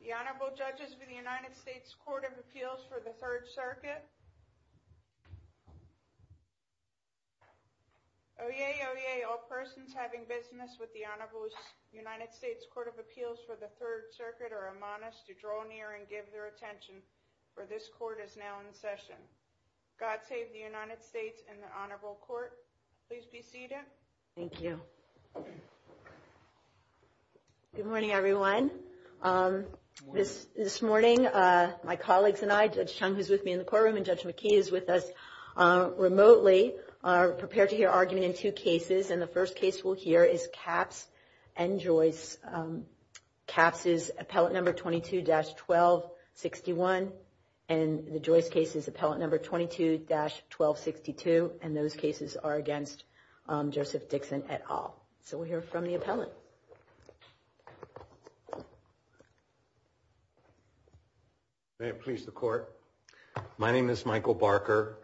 The Honorable Judges of the United States Court of Appeals for the Third Circuit. Oyez, oyez, all persons having business with the Honorable United States Court of Appeals for the Third Circuit are admonished to draw near and give their attention, for this court is now in session. God save the United States and the Honorable Court. Please be seated. Thank you. Good morning, everyone. This morning, my colleagues and I, Judge Chung, who's with me in the courtroom, and Judge McKee is with us remotely, are prepared to hear argument in two cases. And the first case we'll hear is Capps and Joyce. Capps is appellate number 22-1261, and the Joyce case is appellate number 22-1262, and those cases are against Joseph Dixon etal. So we'll hear from the appellate. May it please the Court. My name is Michael Barker.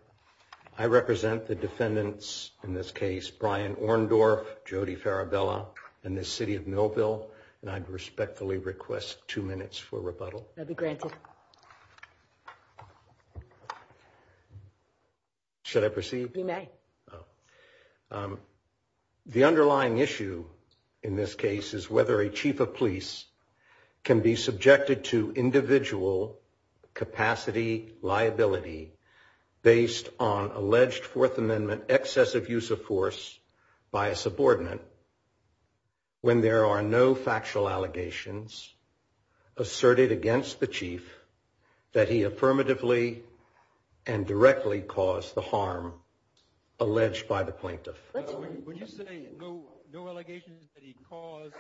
I represent the defendants in this case, Brian Orndorff, Jody Farabella, and the City of Millville, and I respectfully request two minutes for rebuttal. I'll be granted. Should I proceed? You may. The underlying issue in this case is whether a chief of police can be subjected to individual capacity liability based on alleged Fourth Amendment excessive use of force by a subordinate when there are no factual allegations asserted against the chief that he affirmatively and directly caused the harm alleged by the plaintiff. When you say no allegations that he caused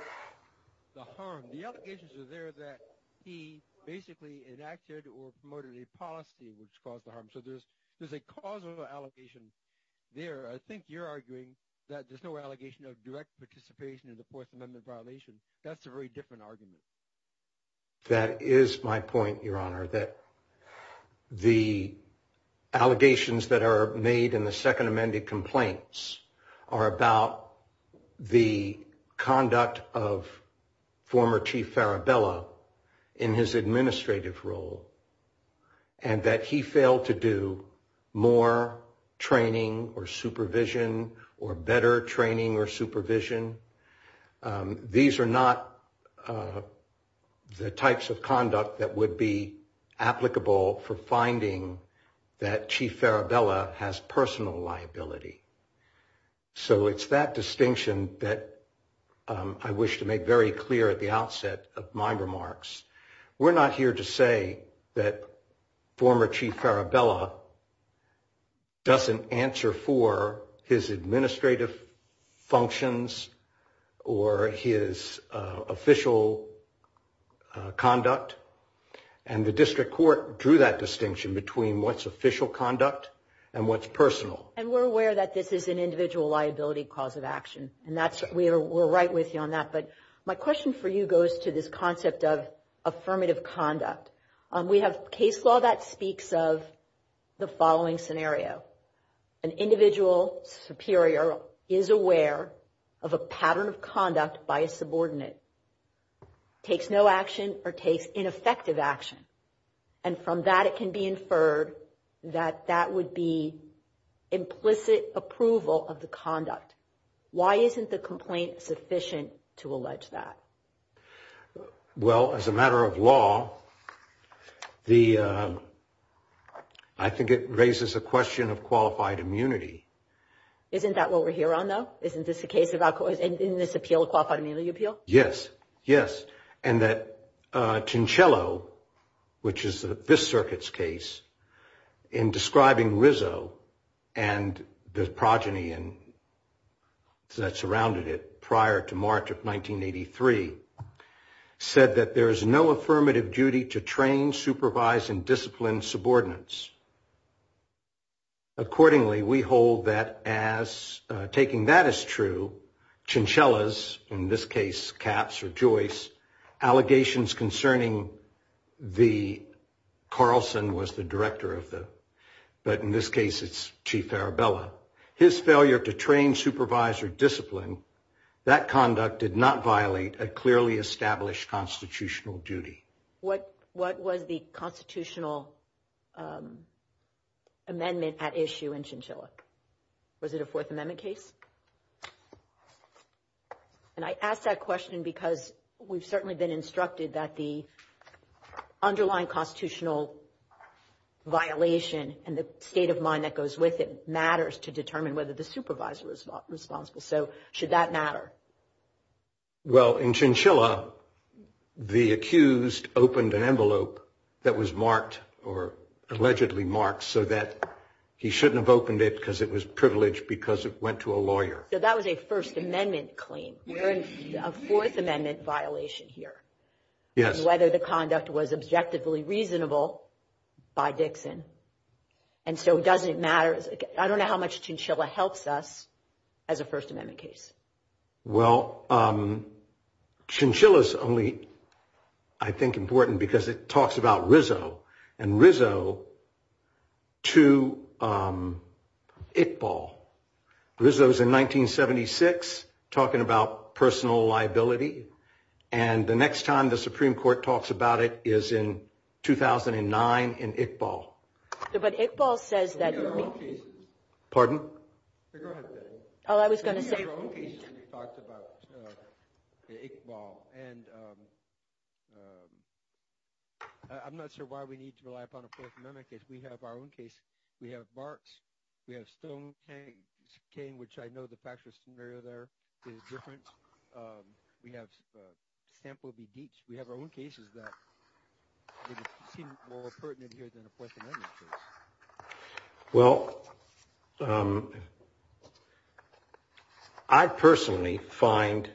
the harm, the allegations are there that he basically enacted or promoted a policy which caused the harm. So there's a causal allegation there. I think you're arguing that there's no allegation of direct participation in the Fourth Amendment violation. That's a very different argument. That is my point, Your Honor, that the allegations that are made in the Second Amendment complaints are about the conduct of former Chief Farabella in his administrative role and that he failed to do more training or supervision or better training or supervision. These are not the types of conduct that would be applicable for finding that Chief Farabella has personal liability. So it's that distinction that I wish to make very clear at the outset of my remarks. We're not here to say that former Chief Farabella doesn't answer for his administrative functions or his official conduct. And the district court drew that distinction between what's official conduct and what's personal. And we're aware that this is an individual liability cause of action. And we're right with you on that. But my question for you goes to this concept of affirmative conduct. We have case law that speaks of the following scenario. An individual superior is aware of a pattern of conduct by a subordinate, takes no action or takes ineffective action, and from that it can be inferred that that would be implicit approval of the conduct. Why isn't the complaint sufficient to allege that? Well, as a matter of law, I think it raises a question of qualified immunity. Isn't that what we're here on, though? Isn't this the case in this appeal, qualified immunity appeal? Yes. Yes. And that which is this circuit's case in describing Rizzo and the progeny that surrounded it prior to March of 1983 said that there is no affirmative duty to train, supervise, and discipline subordinates. Accordingly, we hold that as taking that as true, Chinchillas, in this case, Katz or Joyce, allegations concerning the... Carlson was the director of the... But in this case, it's Chief Arabella. His failure to train, supervise, or discipline that conduct did not violate a clearly established constitutional duty. What was the constitutional amendment at issue in Chinchilla? Was it a Fourth Amendment case? And I ask that question because we've certainly been instructed that the underlying constitutional violation and the state of mind that goes with it matters to determine whether the supervisor is responsible. So should that matter? Well, in Chinchilla, the accused opened an envelope that was marked or allegedly marked so that he shouldn't have opened it because it was privileged because it went to a lawyer. So that was a First Amendment claim. We're in a Fourth Amendment violation here. Yes. Whether the conduct was objectively reasonable by Dixon. And so it doesn't matter. I don't know how much Chinchilla helps us as a First Amendment case. Well, Chinchilla is only, I think, important because it talks about Rizzo and Rizzo to Iqbal. Rizzo's in 1976 talking about personal liability. And the next time the Supreme Court talks about it is in 2009 in Iqbal. But Iqbal says that... Pardon? Go ahead. Oh, I was going to say... ...talked about Iqbal. And I'm not sure why we need to rely upon a Fourth Amendment case. We have our own case. We have Barks. We have Stone Cane, which I know the factual scenario there is different. We have Sample v. Deitch. We have our own cases that seem more pertinent here than a Fourth Amendment case. Well, I personally find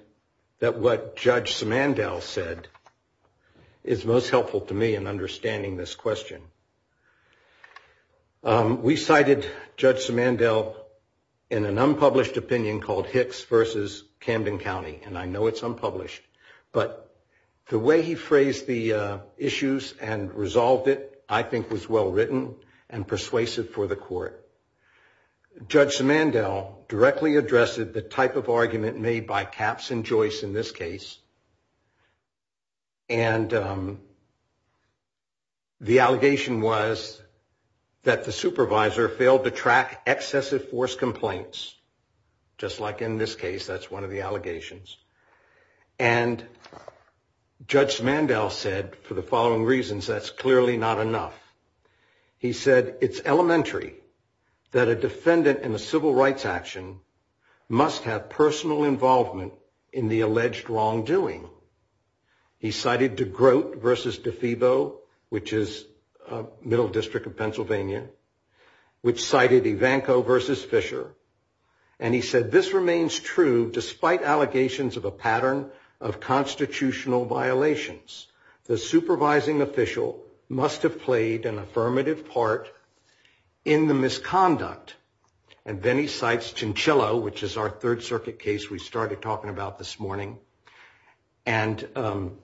that what Judge Simandl said is most helpful to me in understanding this question. We cited Judge Simandl in an unpublished opinion called Hicks v. Camden County. And I know it's unpublished. But the way he phrased the issues and resolved it, I think, was well written and persuasive for the court. Judge Simandl directly addressed the type of argument made by Caps and Joyce in this case. And the allegation was that the supervisor failed to track excessive force complaints. Just like in this case, that's one of the allegations. And Judge Simandl said, for the following reasons, that's clearly not enough. He said, it's elementary that a defendant in a civil rights action must have personal involvement in the alleged wrongdoing. He cited DeGroat v. DeFebo, which is a middle district of Pennsylvania, which cited Ivanko v. Fisher. And he said, this remains true despite allegations of a pattern of constitutional violations. The supervising official must have played an affirmative part in the misconduct. And then he cites Chinchilla, which is our Third Circuit case we started talking about this morning, and an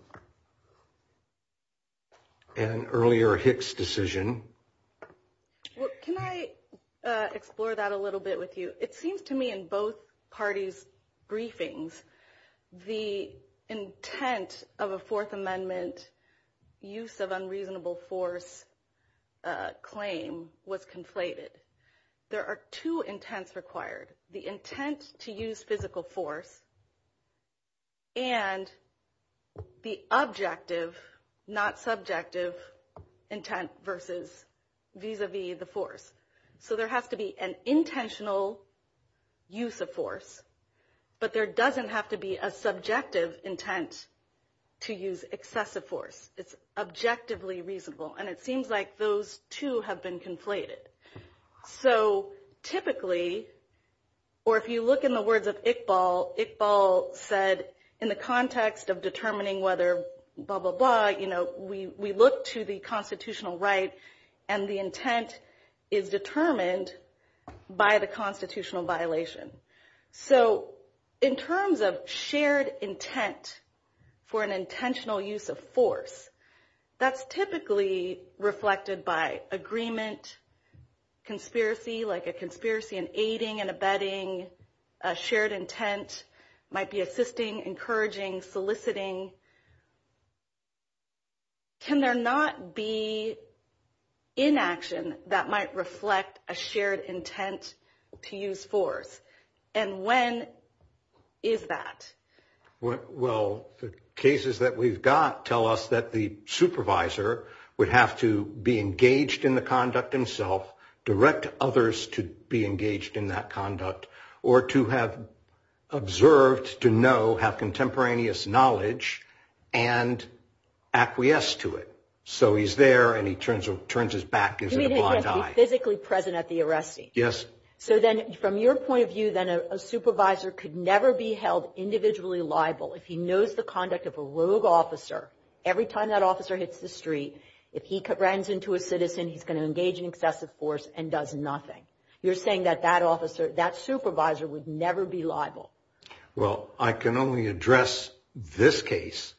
earlier Hicks decision. Can I explore that a little bit with you? It seems to me in both parties' briefings, the intent of a Fourth Amendment use of unreasonable force claim was conflated. There are two intents required. The intent to use physical force and the objective, not subjective, intent versus vis-a-vis the force. So there has to be an but there doesn't have to be a subjective intent to use excessive force. It's objectively reasonable. And it seems like those two have been conflated. So typically, or if you look in the words of Iqbal, Iqbal said, in the context of determining whether blah, blah, blah, we look to the So in terms of shared intent for an intentional use of force, that's typically reflected by agreement, conspiracy, like a conspiracy in aiding and abetting, a shared intent might be assisting, encouraging, soliciting. Can there not be inaction that might reflect a shared intent to use force? And when is that? Well, the cases that we've got tell us that the supervisor would have to be engaged in the conduct himself, direct others to be engaged in that conduct, or to have observed, to know, have contemporaneous knowledge and acquiesce to it. So he's there and he turns his back, gives it a You mean he has to be physically present at the arresting? Yes. So then from your point of view, then a supervisor could never be held individually liable if he knows the conduct of a rogue officer. Every time that officer hits the street, if he runs into a citizen, he's going to engage in excessive force and does nothing. You're saying that that officer, that supervisor would never be liable. Well, I can only address this case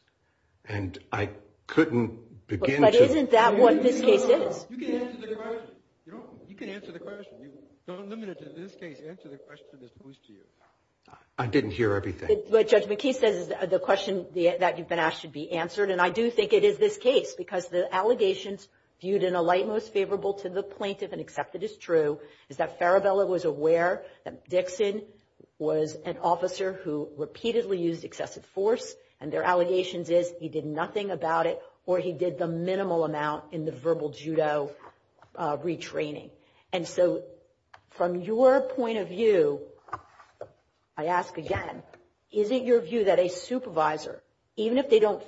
and I couldn't begin to But isn't that what this case is? You can answer the question. You don't, you can answer the question. You don't limit it to this case. Answer the question that's poised to you. I didn't hear everything. What Judge McKee says is the question that you've been asked should be answered. And I do think it is this case because the allegations viewed in a light most favorable to the plaintiff and accepted is true is that Farabella was aware that Dixon was an officer who repeatedly used excessive force and their allegations is he did nothing about it or he did the minimal amount in the verbal judo retraining. And so from your point of view, I ask again, is it your view that a supervisor, even if they don't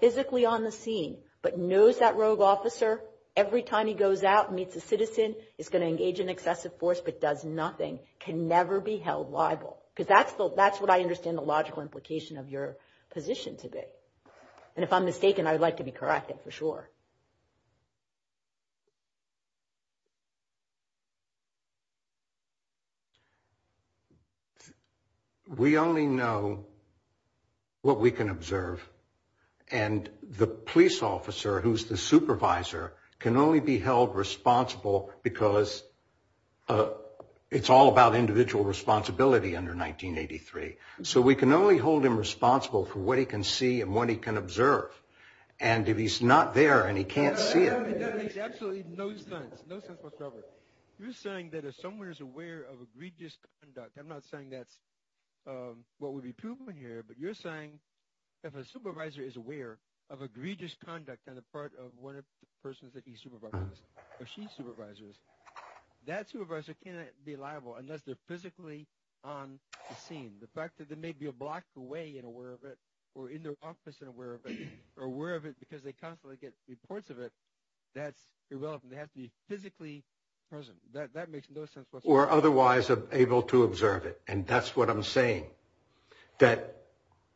physically on the scene, but knows that rogue officer every time he goes out meets a citizen is going to engage in excessive force, but does nothing, can never be held liable? Because that's what I understand the logical implication of your position to be. And if I'm mistaken, I would like to be corrected for sure. We only know what we can observe and the police officer who's the supervisor can only be held responsible because it's all about individual responsibility under 1983. So we can only hold him responsible for what he can see and what he can observe. And if he's not there and he can't see it. You're saying that if someone is aware of egregious conduct, I'm not saying that's what would be proven here, but you're saying if a supervisor is aware of egregious conduct on the persons that he supervises or she supervises, that supervisor cannot be liable unless they're physically on the scene. The fact that there may be a block away and aware of it or in their office and aware of it or aware of it because they constantly get reports of it. That's irrelevant. They have to be physically present. That makes no sense. Or otherwise able to observe it. And that's what I'm saying, that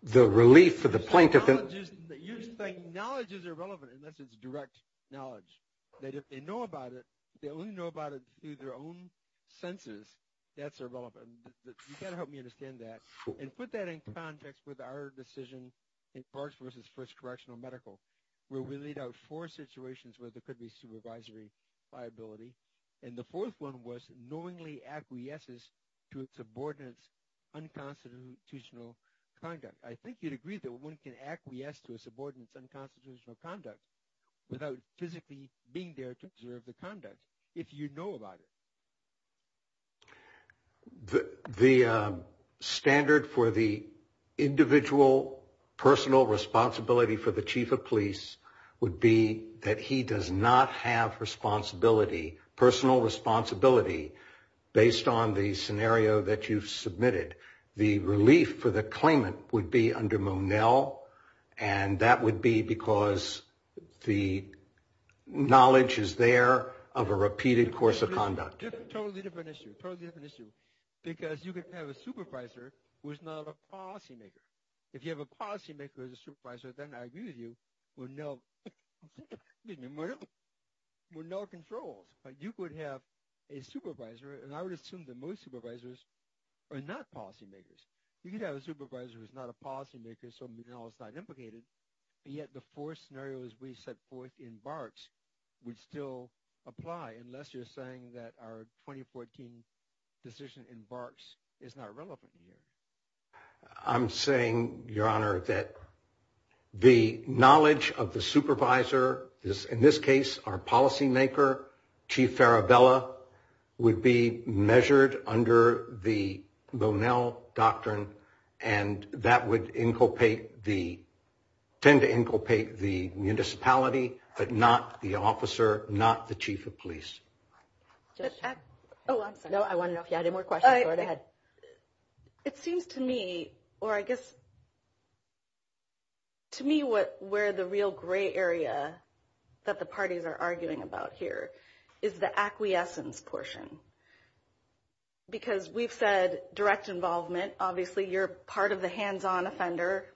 the relief for the plaintiff. You're saying knowledge is irrelevant unless it's direct knowledge. That if they know about it, they only know about it through their own senses. That's irrelevant. You got to help me understand that and put that in context with our decision in parks versus first correctional medical where we laid out four situations where there could be supervisory liability. And the fourth one was knowingly acquiesces to subordinates unconstitutional conduct. I think you'd agree that one can acquiesce to a subordinates unconstitutional conduct without physically being there to observe the conduct if you know about it. The standard for the individual personal responsibility for the chief of police would be that he does not have responsibility, personal responsibility, based on the scenario that you've submitted. The relief for the claimant would be under Monel and that would be because the knowledge is there of a repeated course of conduct. Totally different issue. Because you could have a supervisor who's not a policymaker. If you have a policymaker as a supervisor, then I agree with you, Monel controls. You could have a supervisor, and I would assume that most supervisors are not policymakers. You could have a supervisor who's not a policymaker, so Monel's not implicated, but yet the four scenarios we set forth in Barks would still apply unless you're saying that our 2014 decision in Barks is not relevant to you. I'm saying, Your Honor, that the knowledge of the supervisor is, in this case, our policymaker, Chief Farabella, would be measured under the Monel doctrine and that would inculcate the, tend to inculcate the municipality, but not the officer, not the chief of police. Oh, I'm sorry. No, I wanted to know if you had any more questions. Go right ahead. It seems to me, or I guess, to me where the real gray area that the parties are arguing about here is the acquiescence portion. Because we've said direct involvement, obviously you're part of the hands-on offender.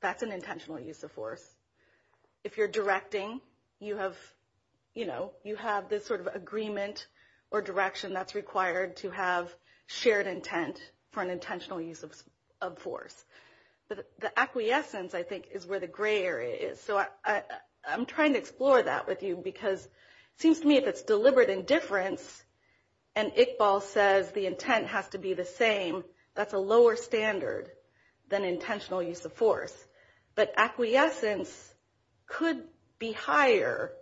That's an intentional use of force. If you're directing, you have this sort of shared intent for an intentional use of force. But the acquiescence, I think, is where the gray area is. So I'm trying to explore that with you because it seems to me if it's deliberate indifference and Iqbal says the intent has to be the same, that's a lower standard than intentional use of force. But acquiescence could be higher,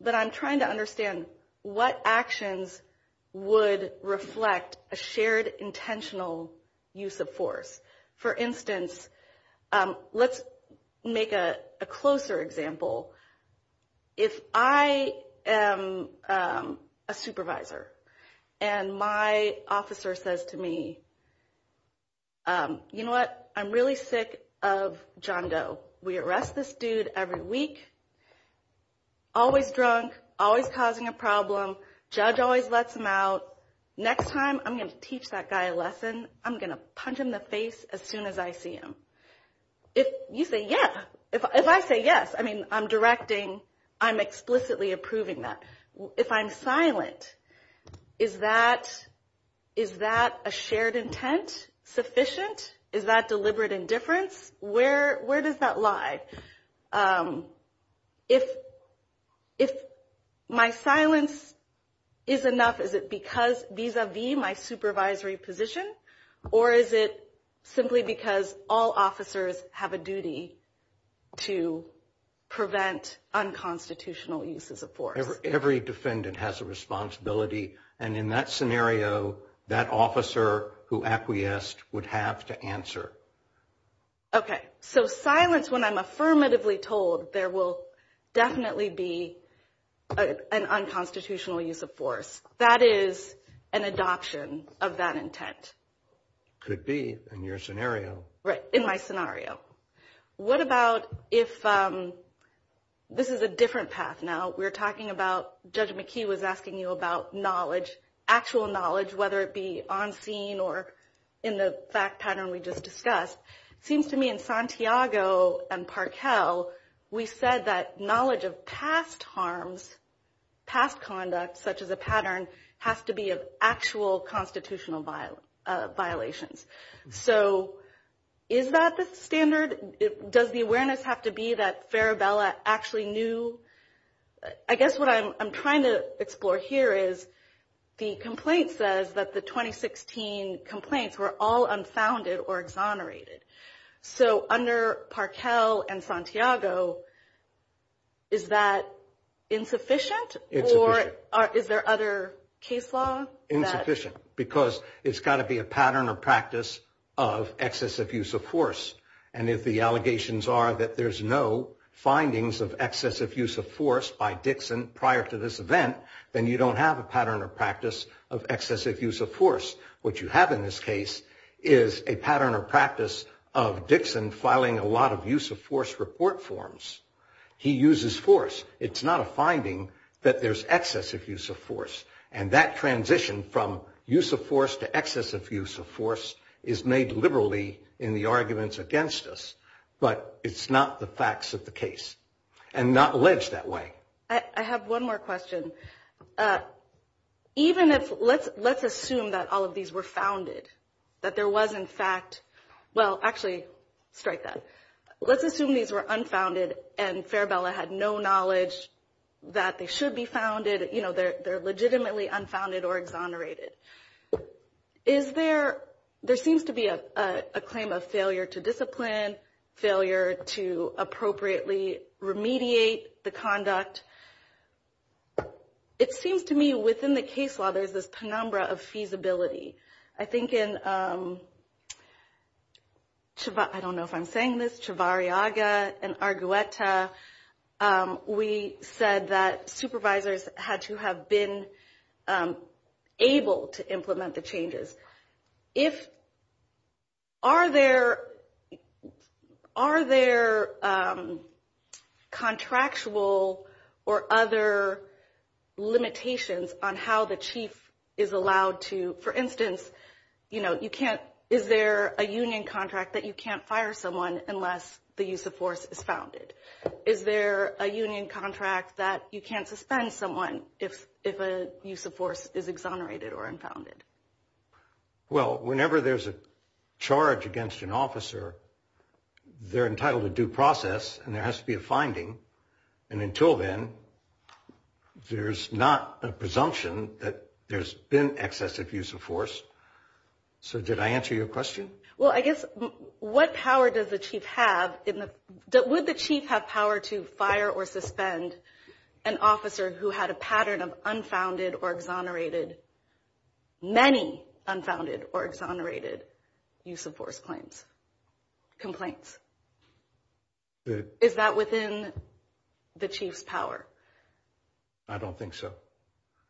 but I'm trying to understand what actions would reflect a shared intentional use of force. For instance, let's make a closer example. If I am a supervisor and my officer says to me, you know what, I'm really sick of John Doe. We arrest this dude every week, always drunk, always causing a problem, judge always lets him out. Next time I'm going to teach that guy a lesson, I'm going to punch him in the face as soon as I see him. If you say yes, if I say yes, I mean I'm directing, I'm explicitly approving that. If I'm silent, is that a shared intent sufficient? Is that deliberate indifference? Where does that lie? If my silence is enough, is it because vis-a-vis my supervisory position or is it simply because all officers have a duty to prevent unconstitutional uses of force? Every defendant has a responsibility and in that scenario, that officer who acquiesced would have to answer. Okay, so silence when I'm affirmatively told there will definitely be an unconstitutional use of force. That is an adoption of that intent. Could be in your scenario. Right, in my scenario. What about if this is a different path now? We're talking about, Judge McKee was asking you about knowledge, actual knowledge, whether it be on scene or in the fact pattern we just discussed. Seems to me in Santiago and Parkell, we said that knowledge of past harms, past conduct, such as a pattern, has to be of actual constitutional violations. So is that the standard? Does the awareness have to be that Farabella actually knew? I guess what I'm trying to explore here is the complaint says that the 2016 complaints were all unfounded or exonerated. So under Parkell and Santiago, is that insufficient or is there other case law? Insufficient because it's got to be a pattern or practice of excessive use of force. And if the allegations are that there's no findings of excessive use of force by Dixon prior to this event, then you don't have a pattern or practice of excessive use of force. What you have in this case is a pattern or practice of Dixon filing a lot of use of force report forms. He uses force. It's not a finding that there's excessive use of force. And that transition from use of force to excessive use of force is made liberally in the arguments against us, but it's not the facts of the case and not alleged that way. I have one more question. Even if, let's assume that all of these were founded, that there was in fact, well, actually strike that. Let's assume these were unfounded and Farabella had no knowledge that they should be founded. You know, they're legitimately unfounded or exonerated. Is there, there seems to be a claim of failure to discipline, failure to appropriately remediate the conduct. It seems to me within the case law, there's this penumbra of feasibility. I think in, I don't know if I'm saying this, Chivarriaga and Argueta, we said that supervisors had to have been able to implement the changes. If, are there, are there contractual or other limitations on how the chief is allowed to, for instance, you know, you can't, is there a union contract that you can't fire someone unless the use of force is founded? Is there a union contract that you can't suspend someone if a use of force is exonerated or unfounded? Well, whenever there's a charge against an officer, they're entitled to due process and there has to be a finding. And until then, there's not a presumption that there's been excessive use of force. So did I answer your question? Well, I guess what power does the chief have in the, would the chief have power to fire or suspend an officer who had a pattern of unfounded or exonerated, many unfounded or exonerated use of force claims, complaints? Is that within the chief's power? I don't think so.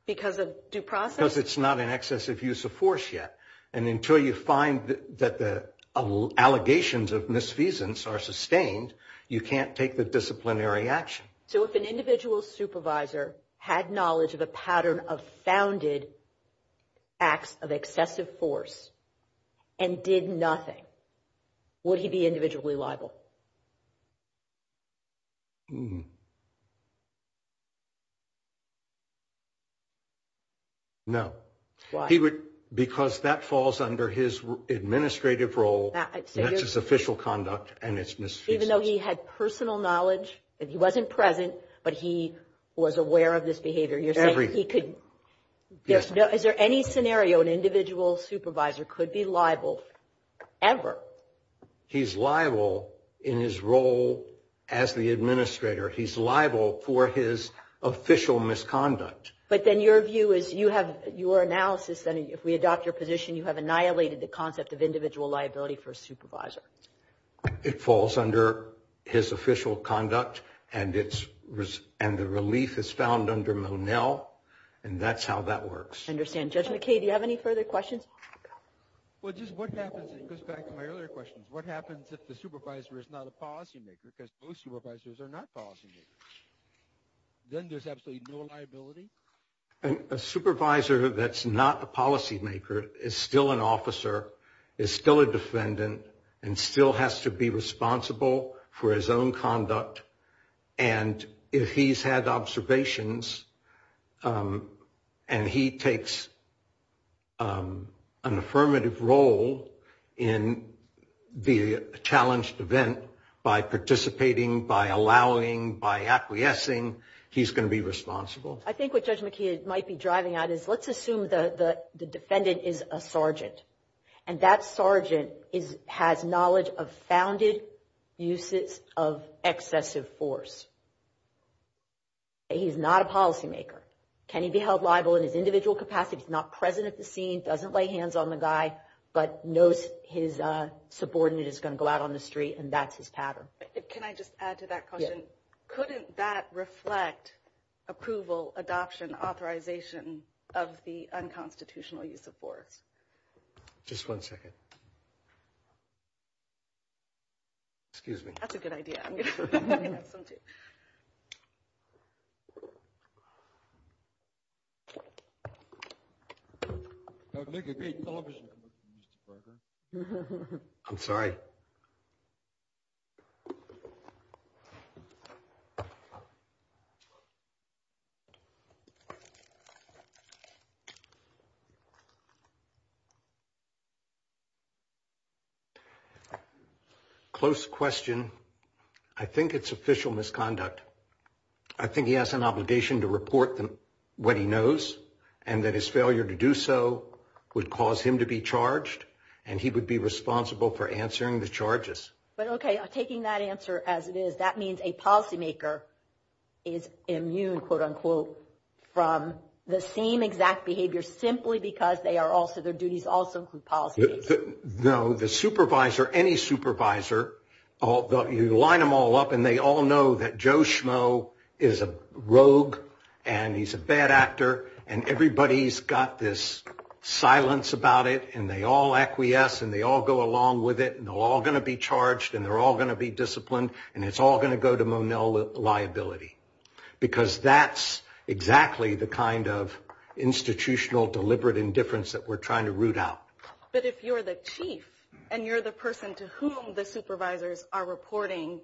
Because of due process? Because it's not an excessive use of force yet. And until you find that the allegations of misfeasance are sustained, you can't take the disciplinary action. So if an individual supervisor had knowledge of a pattern of founded acts of excessive force and did nothing, would he be individually liable? No. Why? Because that falls under his administrative role. That's his official conduct and it's misfeasance. Even though he had personal knowledge, that he wasn't present, but he was aware of this behavior, you're saying he could, is there any scenario an individual supervisor could be liable ever? He's liable in his role as the administrator. He's liable for his official misconduct. But then your view is, you have your analysis that if we adopt your position, you have annihilated the concept of individual liability for a supervisor. It falls under his official conduct and the relief is found under Monell and that's how that works. I understand. Judge McKay, do you have any further questions? Well, just what happens, it goes back to my earlier questions, what happens if the supervisor is not a policymaker because most supervisors are not policymakers? Then there's absolutely no liability? A supervisor that's not a policymaker is still an officer, is still a defendant, and still has to be responsible for his own conduct. And if he's had observations and he takes an affirmative role in the challenged event by participating, by allowing, by acquiescing, he's going to be responsible. I think what Judge McKay might be driving at is, let's assume the defendant is a sergeant and that sergeant has knowledge of founded uses of excessive force. He's not a policymaker. Can he be held liable in his individual capacity? He's not present at the scene, doesn't lay hands on the guy, but knows his subordinate is going to go out on the street and that's his pattern. Can I just add to that question? Couldn't that reflect approval, adoption, authorization of the unconstitutional use of force? Just one second. Excuse me. That's a good idea. I'm sorry. Close question. I think it's official misconduct. I think he has an obligation to report what he knows and that his failure to do so would cause him to be charged and he would be responsible for answering the charges. But okay, taking that answer as it is, that means a policymaker is immune, quote unquote, from the same exact behavior simply because they are also, their duties also include policymaking. No, the supervisor, any supervisor, you line them all up and they all know that Joe Schmo is a rogue and he's a bad actor and everybody's got this silence about it and they all acquiesce and they all go along with it and they're all going to be charged and they're all going to be disciplined and it's all going to liability because that's exactly the kind of institutional deliberate indifference that we're trying to root out. But if you're the chief and you're the person to whom the supervisors are reporting,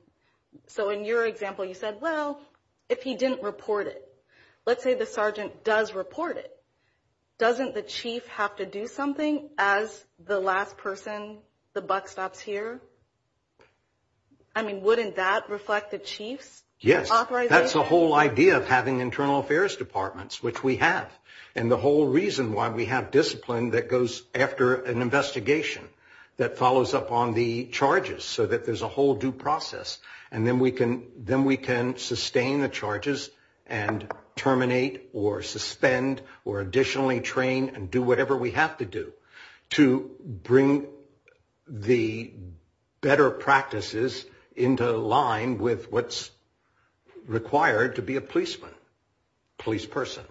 so in your example, you said, well, if he didn't report it, let's say the sergeant does report it, doesn't the chief have to do something as the last person, the buck stops here? I mean, wouldn't that reflect the chief's authorization? Yes, that's the whole idea of having internal affairs departments, which we have, and the whole reason why we have discipline that goes after an investigation that follows up on the charges so that there's a whole due process and then we can sustain the charges and terminate or the better practices into line with what's required to be a policeman, police person.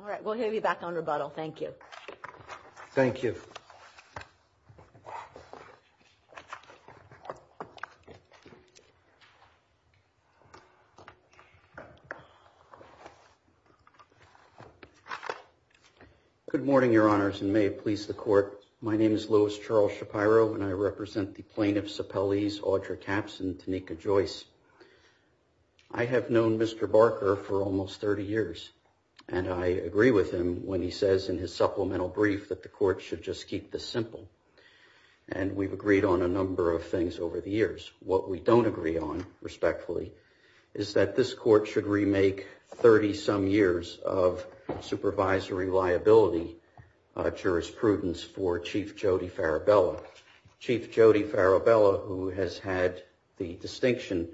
All right, we'll hear you back on rebuttal. Thank you. Thank you. Okay. Good morning, your honors, and may it please the court. My name is Louis Charles Shapiro, and I represent the plaintiff's appellees, Audra Caps and Tanika Joyce. I have known Mr. Barker for almost 30 years, and I agree with him when he says in his supplemental brief that the court should just keep this simple, and we've agreed on a number of things over the years. What we don't agree on, respectfully, is that this court should remake 30-some years of supervisory liability jurisprudence for Chief Jody Farabella. Chief Jody Farabella, who has had the distinction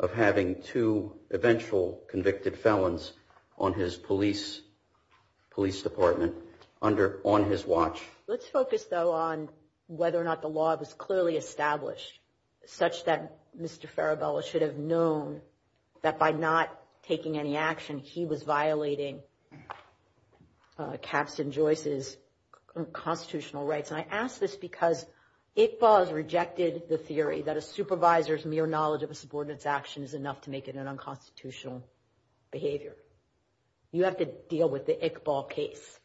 of having two eventual convicted felons on his police department, on his watch. Let's focus, though, on whether or not the law was clearly established such that Mr. Farabella should have known that by not taking any action, he was violating Caps and Joyce's constitutional rights. And I ask this because Iqbal has rejected the theory that a supervisor's mere knowledge of a subordinate's action is enough to make it an unconstitutional behavior. You have to deal with the Iqbal case.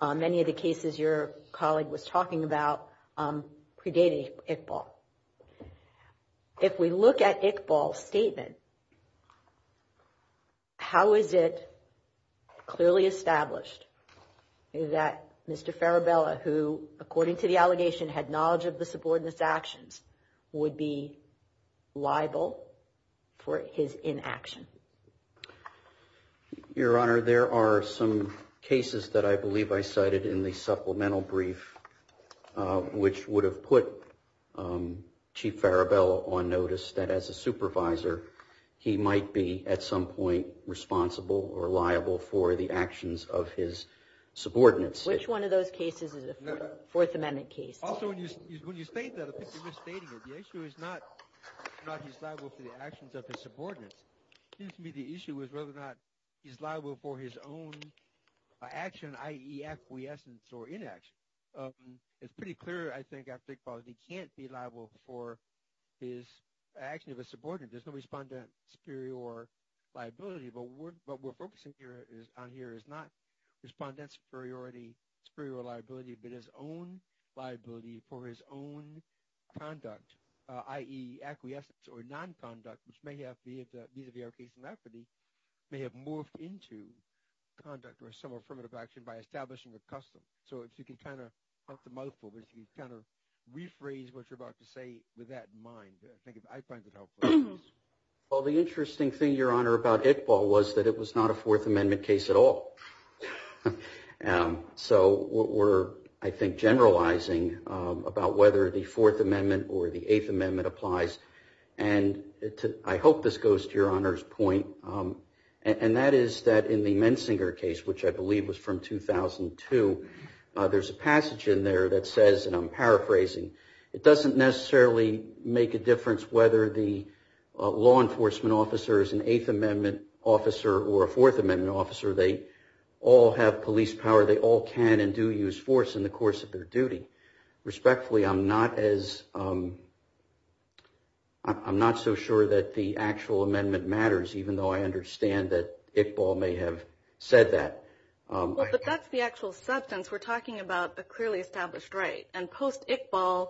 Many of the cases your colleague was talking about predated Iqbal. If we look at Iqbal's statement, how is it clearly established that Mr. Farabella, who, according to the allegation, had knowledge of the subordinate's actions, would be liable for his inaction? Your Honor, there are some cases that I believe I cited in the supplemental brief which would have put Chief Farabella on notice that, as a supervisor, he might be, at some point, responsible or liable for the actions of his subordinates. Which one of those cases is a Fourth Amendment case? Also, when you state that, I think you're misstating it. The issue is not whether he's liable for the actions of his subordinates. It seems to me the issue is whether or not he's liable for his own action, i.e. acquiescence or inaction. It's pretty clear, I think, Iqbal, that he can't be liable for his action of a subordinate. There's no respondent superior liability. But what we're focusing on here is not respondent superiority, but his own liability for his own conduct, i.e. acquiescence or non-conduct, which may have, vis-a-vis our case in Rafferty, may have morphed into conduct or some affirmative action by establishing the custom. So if you can kind of put the mouth forward, if you can kind of rephrase what you're about to say with that in mind, I think I find it helpful. Well, the interesting thing, Your Honor, about Iqbal was that it was not a Fourth Amendment case at all. So we're, I think, generalizing about whether the Fourth Amendment or the Eighth Amendment applies. And I hope this goes to Your Honor's point, and that is that in the Mensinger case, which I believe was from 2002, there's a passage in there that says, and I'm paraphrasing, it doesn't necessarily make a difference whether the law enforcement officer is an Eighth Amendment officer or a Fourth Amendment officer. They all have police power. They all can and do use force in the course of their duty. Respectfully, I'm not as, I'm not so sure that the actual amendment matters, even though I understand that Iqbal may have said that. But that's the actual substance. We're talking about a clearly established right. And post-Iqbal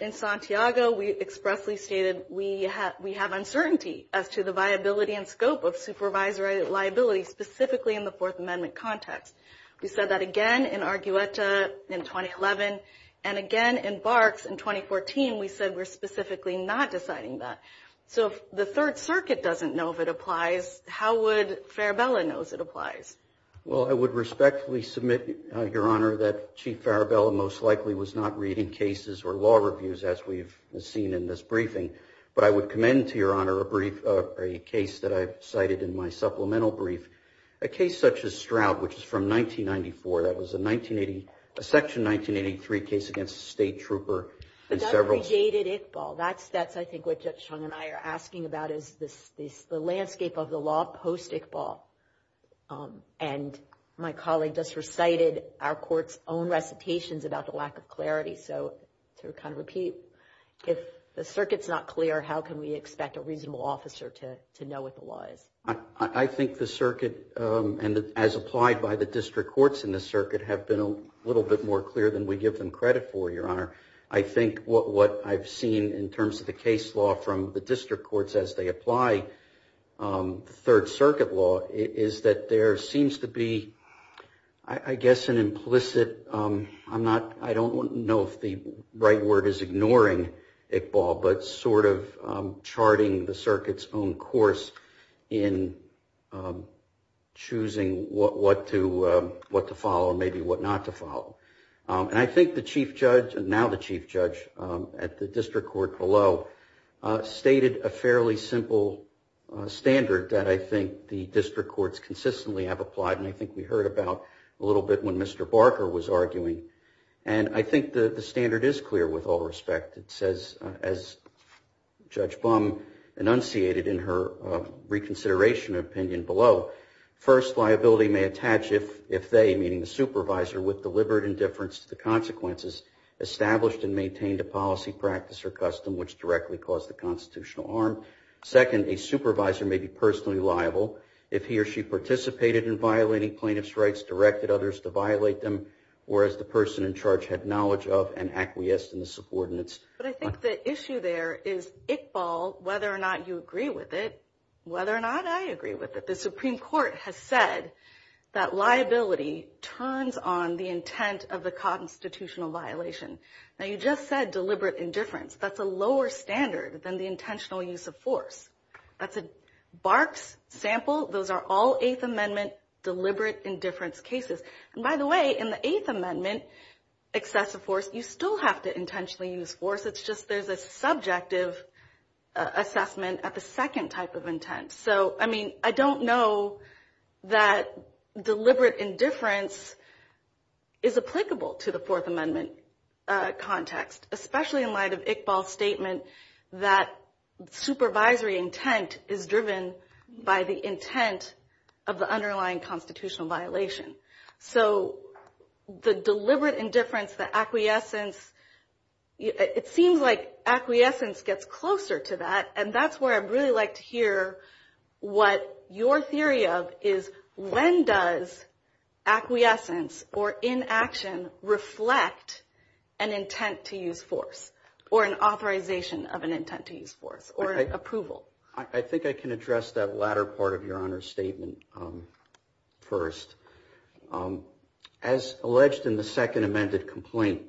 in Santiago, we expressly stated we have uncertainty as to the viability and scope of supervisory liability, specifically in the Fourth Amendment context. We said that again in Argueta in 2011, and again in Barks in 2014, we said we're specifically not deciding that. So if the Third Circuit doesn't know if it applies, how would Farabella know if it applies? Well, I would respectfully submit, Your Honor, that Chief Farabella most likely was not reading cases or law reviews as we've seen in this briefing. But I would commend to Your Honor a brief, a case that I've cited in my supplemental brief, a case such as Stroud, which is from 1994. That was a 1980, a Section 1983 case against a state trooper. But that predated Iqbal. That's, I think, what Judge Chung and I are asking about is this, the landscape of the law post-Iqbal. And my colleague just recited our court's own recitations about the lack of clarity. So to kind of repeat, if the circuit's not clear, how can we expect a reasonable officer to know what the law is? I think the circuit, and as applied by the district courts in the circuit, have been a little bit more clear than we give them credit for, Your Honor. I think what I've seen in terms of the case law from the district courts as they I don't know if the right word is ignoring Iqbal, but sort of charting the circuit's own course in choosing what to follow, maybe what not to follow. And I think the Chief Judge, and now the Chief Judge at the district court below, stated a fairly simple standard that I think the district courts consistently have applied. And I think we heard about a little bit when Mr. Barker was arguing. And I think the standard is clear with all respect. It says, as Judge Blum enunciated in her reconsideration opinion below, first, liability may attach if they, meaning the supervisor, with deliberate indifference to the consequences established and maintained a policy, practice, or custom which directly caused the constitutional harm. Second, a supervisor may be personally liable if he or she participated in violating plaintiff's rights, directed others to violate them, or as the person in charge had knowledge of and acquiesced in the subordinates. But I think the issue there is Iqbal, whether or not you agree with it, whether or not I agree with it. The Supreme Court has said that liability turns on the intent of the constitutional violation. Now you just said deliberate indifference. That's a lower standard than the intentional use of force. That's a Barks sample. Those are all Eighth Amendment deliberate indifference cases. And by the way, in the Eighth Amendment, excessive force, you still have to intentionally use force. It's just there's a subjective assessment at the second type of intent. So, I mean, I don't know that deliberate indifference is applicable to the Fourth Amendment context, especially in light of the fact that intent is driven by the intent of the underlying constitutional violation. So the deliberate indifference, the acquiescence, it seems like acquiescence gets closer to that. And that's where I'd really like to hear what your theory of is when does acquiescence or inaction reflect an intent to use force or an authorization of an intent to use force or approval? I think I can address that latter part of your Honor's statement first. As alleged in the Second Amended Complaint,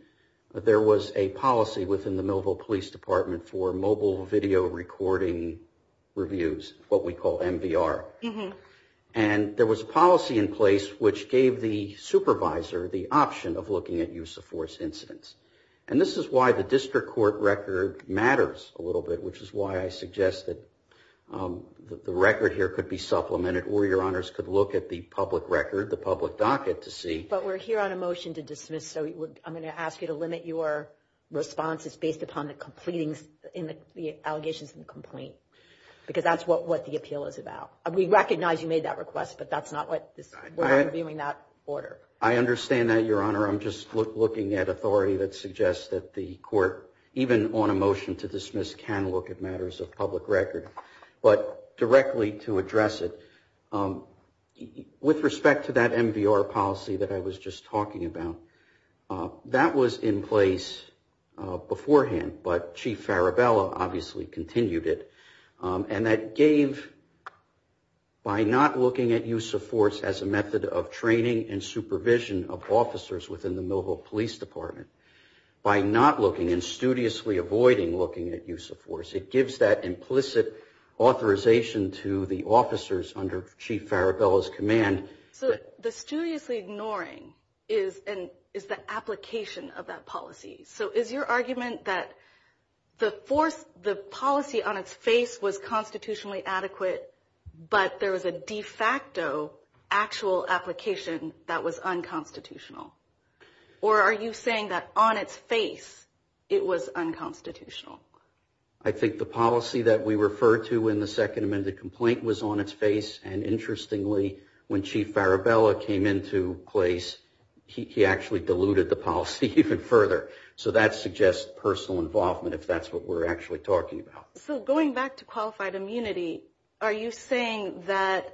there was a policy within the Millville Police Department for mobile video recording reviews, what we call MVR. And there was a policy in place which gave the supervisor the option of looking at use of force incidents. And this is why the district court record matters a little bit, which is why I suggest that the record here could be supplemented or your Honors could look at the public record, the public docket to see. But we're here on a motion to dismiss, so I'm going to ask you to limit your responses based upon the allegations in the complaint. Because that's what the appeal is but that's not what I'm viewing that order. I understand that, your Honor. I'm just looking at authority that suggests that the court, even on a motion to dismiss, can look at matters of public record. But directly to address it, with respect to that MVR policy that I was just talking about, that was in place beforehand, but Chief Farabella obviously continued it. And that gave, by not looking at use of force as a method of training and supervision of officers within the Millville Police Department, by not looking and studiously avoiding looking at use of force, it gives that implicit authorization to the officers under Chief Farabella's command. So the studiously ignoring is the application of that policy. So is your argument that the force, the policy on its face was constitutionally adequate, but there was a de facto actual application that was unconstitutional? Or are you saying that on its face, it was unconstitutional? I think the policy that we refer to in the second amended complaint was on its face. And interestingly, when Chief Farabella came into place, he actually diluted the policy even further. So that suggests personal involvement, if that's what we're actually talking about. So going back to qualified immunity, are you saying that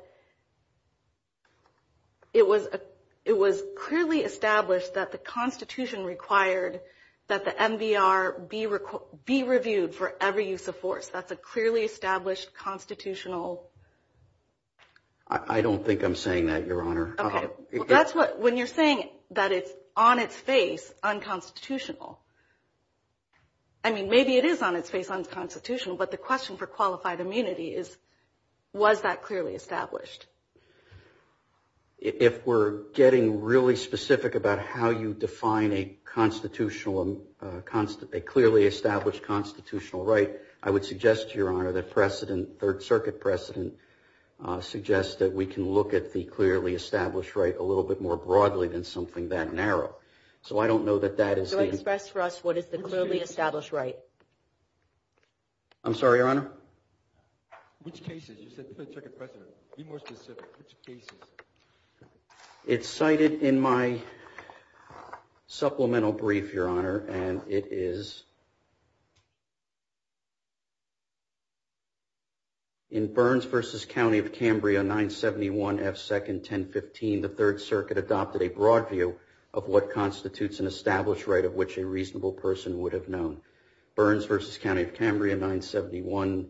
it was clearly established that the Constitution required that the MVR be reviewed for every use of force? That's a clearly established constitutional? I don't think I'm saying that, Your Honor. Okay. That's what, when you're saying that it's on its face unconstitutional, I mean, maybe it is on its face unconstitutional, but the question for qualified immunity is, was that clearly established? If we're getting really specific about how you define a constitutional, a clearly established constitutional right, I would suggest, Your Honor, that precedent, Third Circuit precedent, suggests that we can look at the clearly established right a little bit more broadly than something that narrow. So I don't know that that is... So express for us what is the clearly established right? I'm sorry, Your Honor? Which cases? You said Third Circuit precedent. Be more specific. Which cases? It's cited in my supplemental brief, Your Honor, and it is in Burns v. County of Cambria, 971 F. 2nd, 1015, the Third Circuit adopted a broad view of what constitutes an established right of which a reasonable person would have known. Burns v. County of Cambria, 971,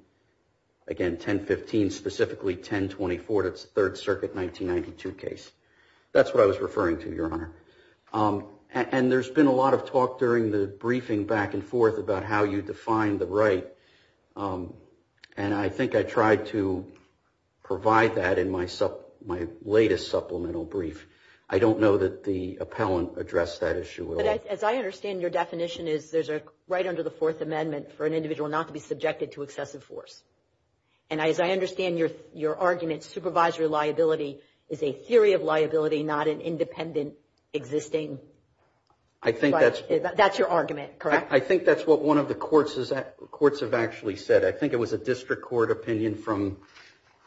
again, 1015, specifically 1024, that's the Third Circuit 1992 case. That's what I was referring to, Your Honor. And there's been a lot of talk during the briefing back and forth about how you define the right, and I think I tried to provide that in my latest supplemental brief. I don't know that the appellant addressed that issue at all. As I understand, your definition is there's a right under the Fourth Amendment for an individual not to be subjected to excessive force. And as I understand your argument, supervisory liability is a theory of liability, not an independent existing... I think that's... That's your argument, correct? I think that's what one of the courts have actually said. I think it was a district court opinion from,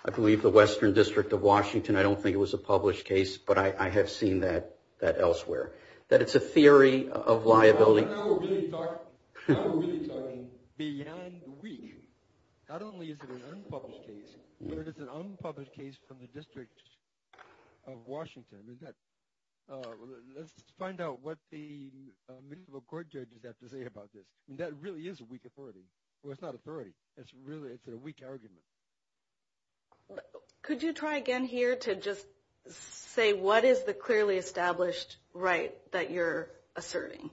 I believe, the Western District of Washington. I don't think it was a published case, but I have seen that elsewhere, that it's a theory of liability. Your Honor, we're really talking beyond weak. Not only is it an unpublished case, but it's an unpublished case from the District of Washington. Let's find out what the minimum court judge has to say about this. That really is a weak authority. Well, it's not authority. It's a weak argument. Could you try again here to just say what is the clearly established right that you're asserting?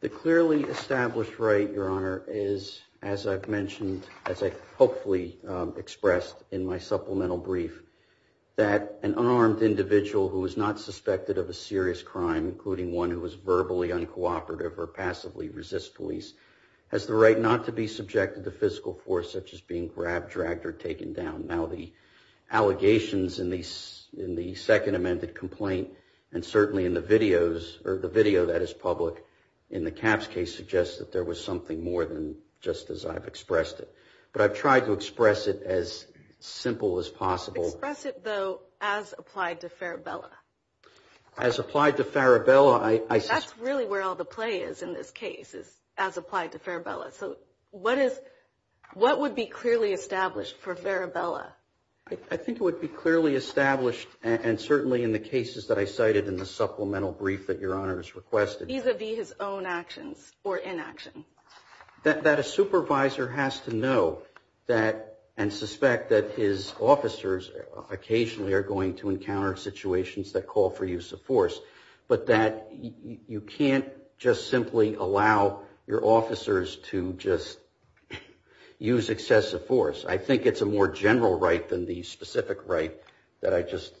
The clearly established right, Your Honor, is, as I've mentioned, as I hopefully expressed in my supplemental brief, that an unarmed individual who is not suspected of a serious crime, including one who is verbally uncooperative or passively resists police, has the right not to be subjected to physical force, such as being grabbed, dragged, or taken down. Now, the allegations in the second amended complaint, and certainly in the video that is public in the Capps case, suggests that there was something more than just as I've expressed it. But I've tried to express it as simple as possible. Express it, though, as applied to Farabella. As applied to Farabella. That's really where all the play is in this case, as applied to Farabella. So what would be clearly established for Farabella? I think it would be clearly established, and certainly in the cases that I cited in the supplemental brief that Your Honor has requested. Vis-a-vis his own actions or inaction. That a supervisor has to know that and suspect that his officers occasionally are going to your officers to just use excessive force. I think it's a more general right than the specific right that I just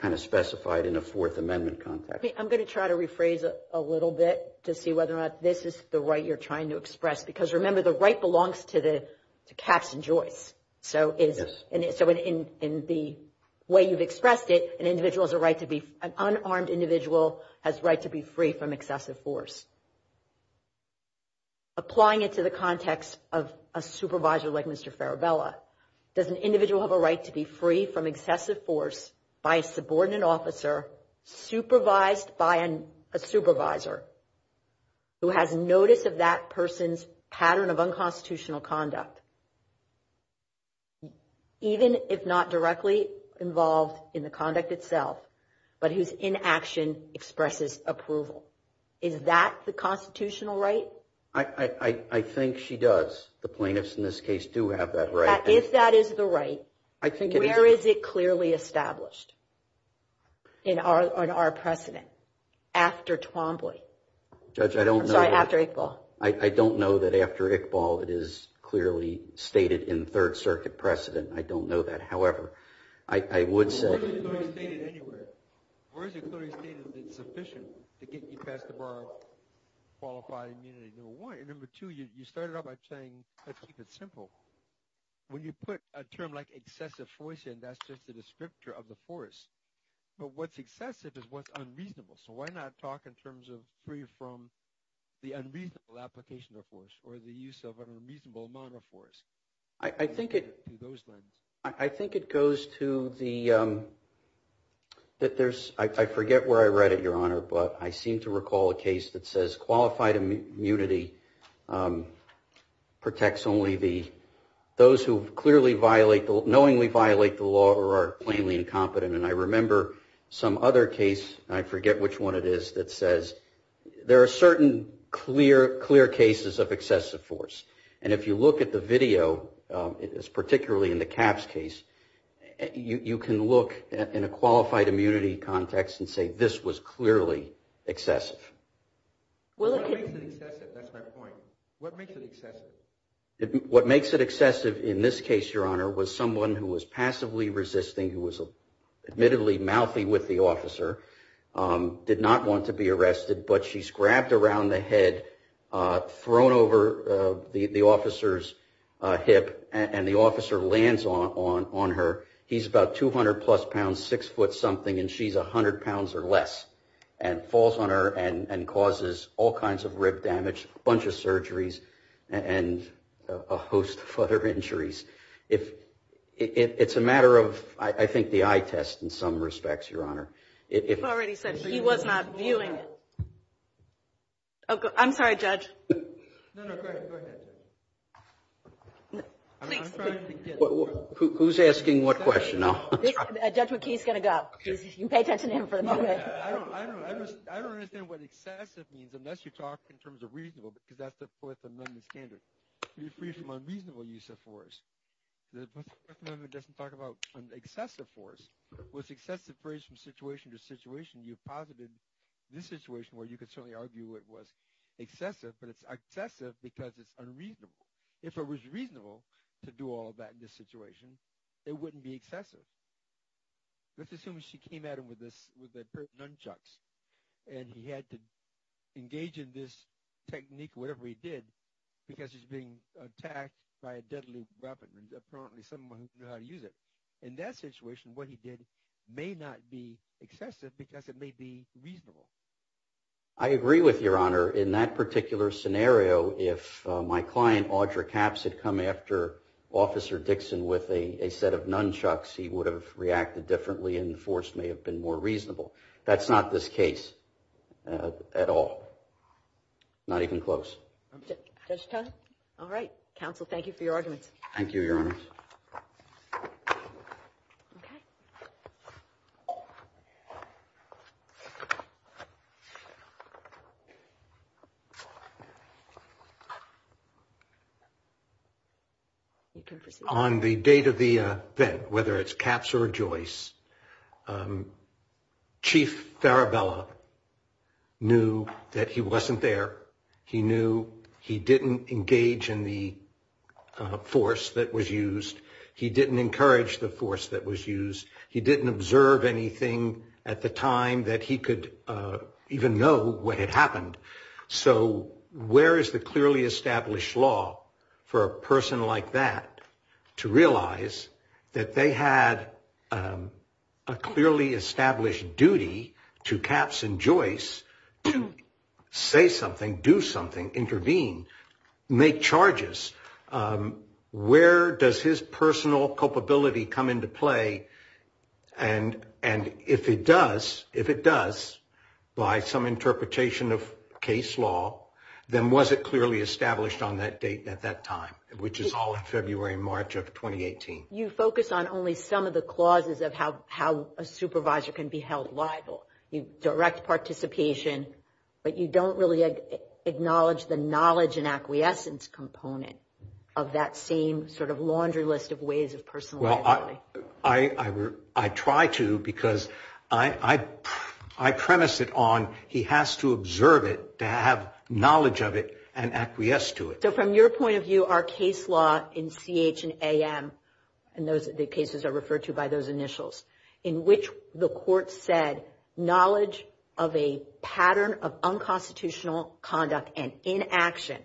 kind of specified in a Fourth Amendment context. I'm going to try to rephrase a little bit to see whether or not this is the right you're trying to express. Because remember, the right belongs to the Capps and Joyce. So in the way you've expressed it, an individual has a right to be, an unarmed individual has a right to be free from excessive force. Applying it to the context of a supervisor like Mr. Farabella, does an individual have a right to be free from excessive force by a subordinate officer, supervised by a supervisor, who has notice of that person's pattern of unconstitutional conduct, even if not directly involved in the I think she does. The plaintiffs in this case do have that right. If that is the right, where is it clearly established in our precedent after Twombly? Judge, I don't know. Sorry, after Iqbal. I don't know that after Iqbal it is clearly stated in Third Circuit precedent. I don't know that. However, I would say... Where is it clearly stated anywhere? Where is it clearly stated that it's sufficient to get you past the bar of qualified immunity? Number one. Number two, you started off by saying, let's keep it simple. When you put a term like excessive force in, that's just a descriptor of the force. But what's excessive is what's unreasonable. So why not talk in terms of free from the unreasonable application of force, or the use of an unreasonable amount of force? I think it goes to the... I forget where I read it, Your Honor, but I seem to recall a case that says qualified immunity protects only those who knowingly violate the law or are plainly incompetent. And I remember some other case, I forget which one it is, that says there are certain clear cases of excessive force. And if you look at the video, particularly in the Capps case, you can look in a qualified immunity context and say, this was clearly excessive. Well, that's my point. What makes it excessive? What makes it excessive in this case, Your Honor, was someone who was passively resisting, who was admittedly mouthy with the officer, did not want to be arrested, but she's grabbed around the head, thrown over the officer's hip, and the officer lands on her. He's about 200 plus pounds, six foot something, and she's 100 pounds or less, and falls on her and causes all kinds of rib damage, a bunch of surgeries, and a host of other injuries. It's a matter of, I think, the eye test in some respects, Your Honor. You've already said he was not viewing it. I'm sorry, Judge. No, no, go ahead. Who's asking what question now? Judge McKee's going to go. You can pay attention to him for a minute. I don't understand what excessive means unless you talk in terms of reasonable, because that's the Fourth Amendment standard. You're free from unreasonable use of force. The Fourth Amendment doesn't talk about excessive force. With excessive force from situation to situation, you posited this situation where you could certainly argue it was excessive because it's unreasonable. If it was reasonable to do all of that in this situation, it wouldn't be excessive. Let's assume she came at him with a pair of nunchucks, and he had to engage in this technique, whatever he did, because he's being attacked by a deadly weapon, and apparently someone knew how to use it. In that situation, what he did may not be excessive because it may be reasonable. I agree with Your Honor. In that particular scenario, if my client, Audra Capps, had come after Officer Dixon with a set of nunchucks, he would have reacted differently and the force may have been more reasonable. That's not this case at all. Not even close. Judge Tone. All right. Counsel, thank you for your arguments. Thank you, Your Honor. Okay. You can proceed. On the date of the event, whether it's Capps or Joyce, Chief Farabella knew that he wasn't there. He knew he didn't engage in the force that was used. He didn't encourage the force that was used. He didn't observe anything at the time that he could even know what had happened. So, where is the clearly established law for a person like that to realize that they had a clearly established duty to Capps and Joyce to say something, do something, intervene, make charges? Where does his personal culpability come into play? And if it does, if it does, by some interpretation of case law, then was it clearly established on that date at that time, which is all in February and March of 2018? You focus on only some of the clauses of how a supervisor can be held liable. You direct participation, but you don't really acknowledge the knowledge and acquiescence component. Of that same sort of laundry list of ways of personal liability. I try to because I premise it on he has to observe it to have knowledge of it and acquiesce to it. So, from your point of view, our case law in CH and AM, and the cases are referred to by those initials, in which the court said knowledge of a pattern of unconstitutional conduct and inaction,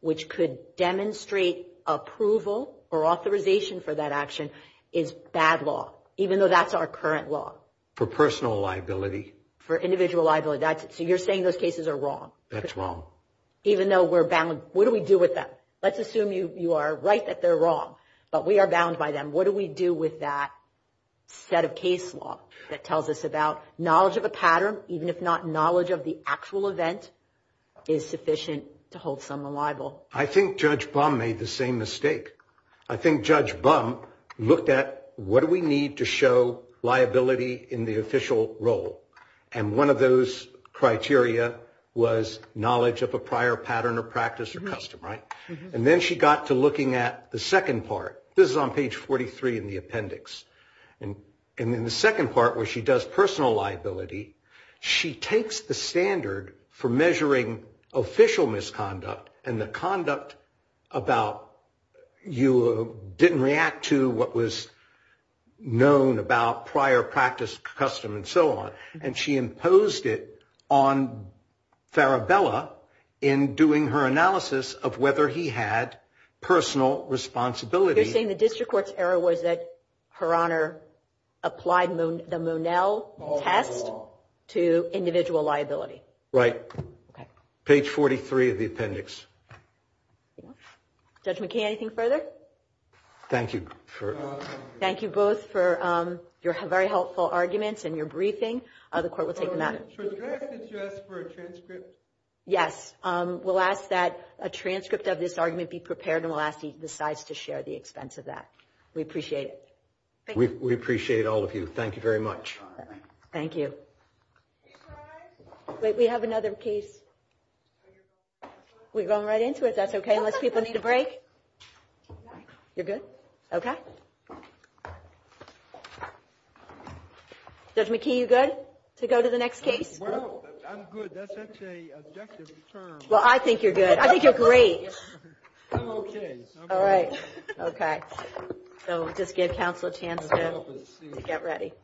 which could demonstrate approval or authorization for that action, is bad law, even though that's our current law. For personal liability. For individual liability, that's it. So you're saying those cases are wrong. That's wrong. Even though we're bound, what do we do with them? Let's assume you are right that they're wrong, but we are bound by them. What do we do with that set of case law that tells us about knowledge of a pattern, even if not knowledge of the actual event, is sufficient to hold someone liable? I think Judge Bum made the same mistake. I think Judge Bum looked at what do we need to show liability in the official role? And one of those criteria was knowledge of a prior pattern or practice or custom, right? And then she got to looking at the second part. This is on page 43 in the appendix. And in the second part where she does personal liability, she takes the standard for measuring official misconduct and the conduct about you didn't react to what was known about prior practice, custom, and so on. And she imposed it on Farabella in doing her analysis of whether he had personal responsibility. You're saying the district court's error was that Her Honor applied the Monell test to individual liability. Right. Page 43 of the appendix. Judge McKay, anything further? Thank you. Thank you both for your very helpful arguments and your briefing. The court will take them out. Yes, we'll ask that a transcript of this argument be prepared and we'll ask each side to share the expense of that. We appreciate it. We appreciate all of you. Thank you very much. Thank you. We have another case. We're going right into it. That's okay. Unless people need a break. You're good? Okay. Judge McKay, you good to go to the next case? Well, I'm good. That's actually an objective term. Well, I think you're good. I think you're great. I'm okay. All right, okay. So we'll just give counsel a chance to get ready.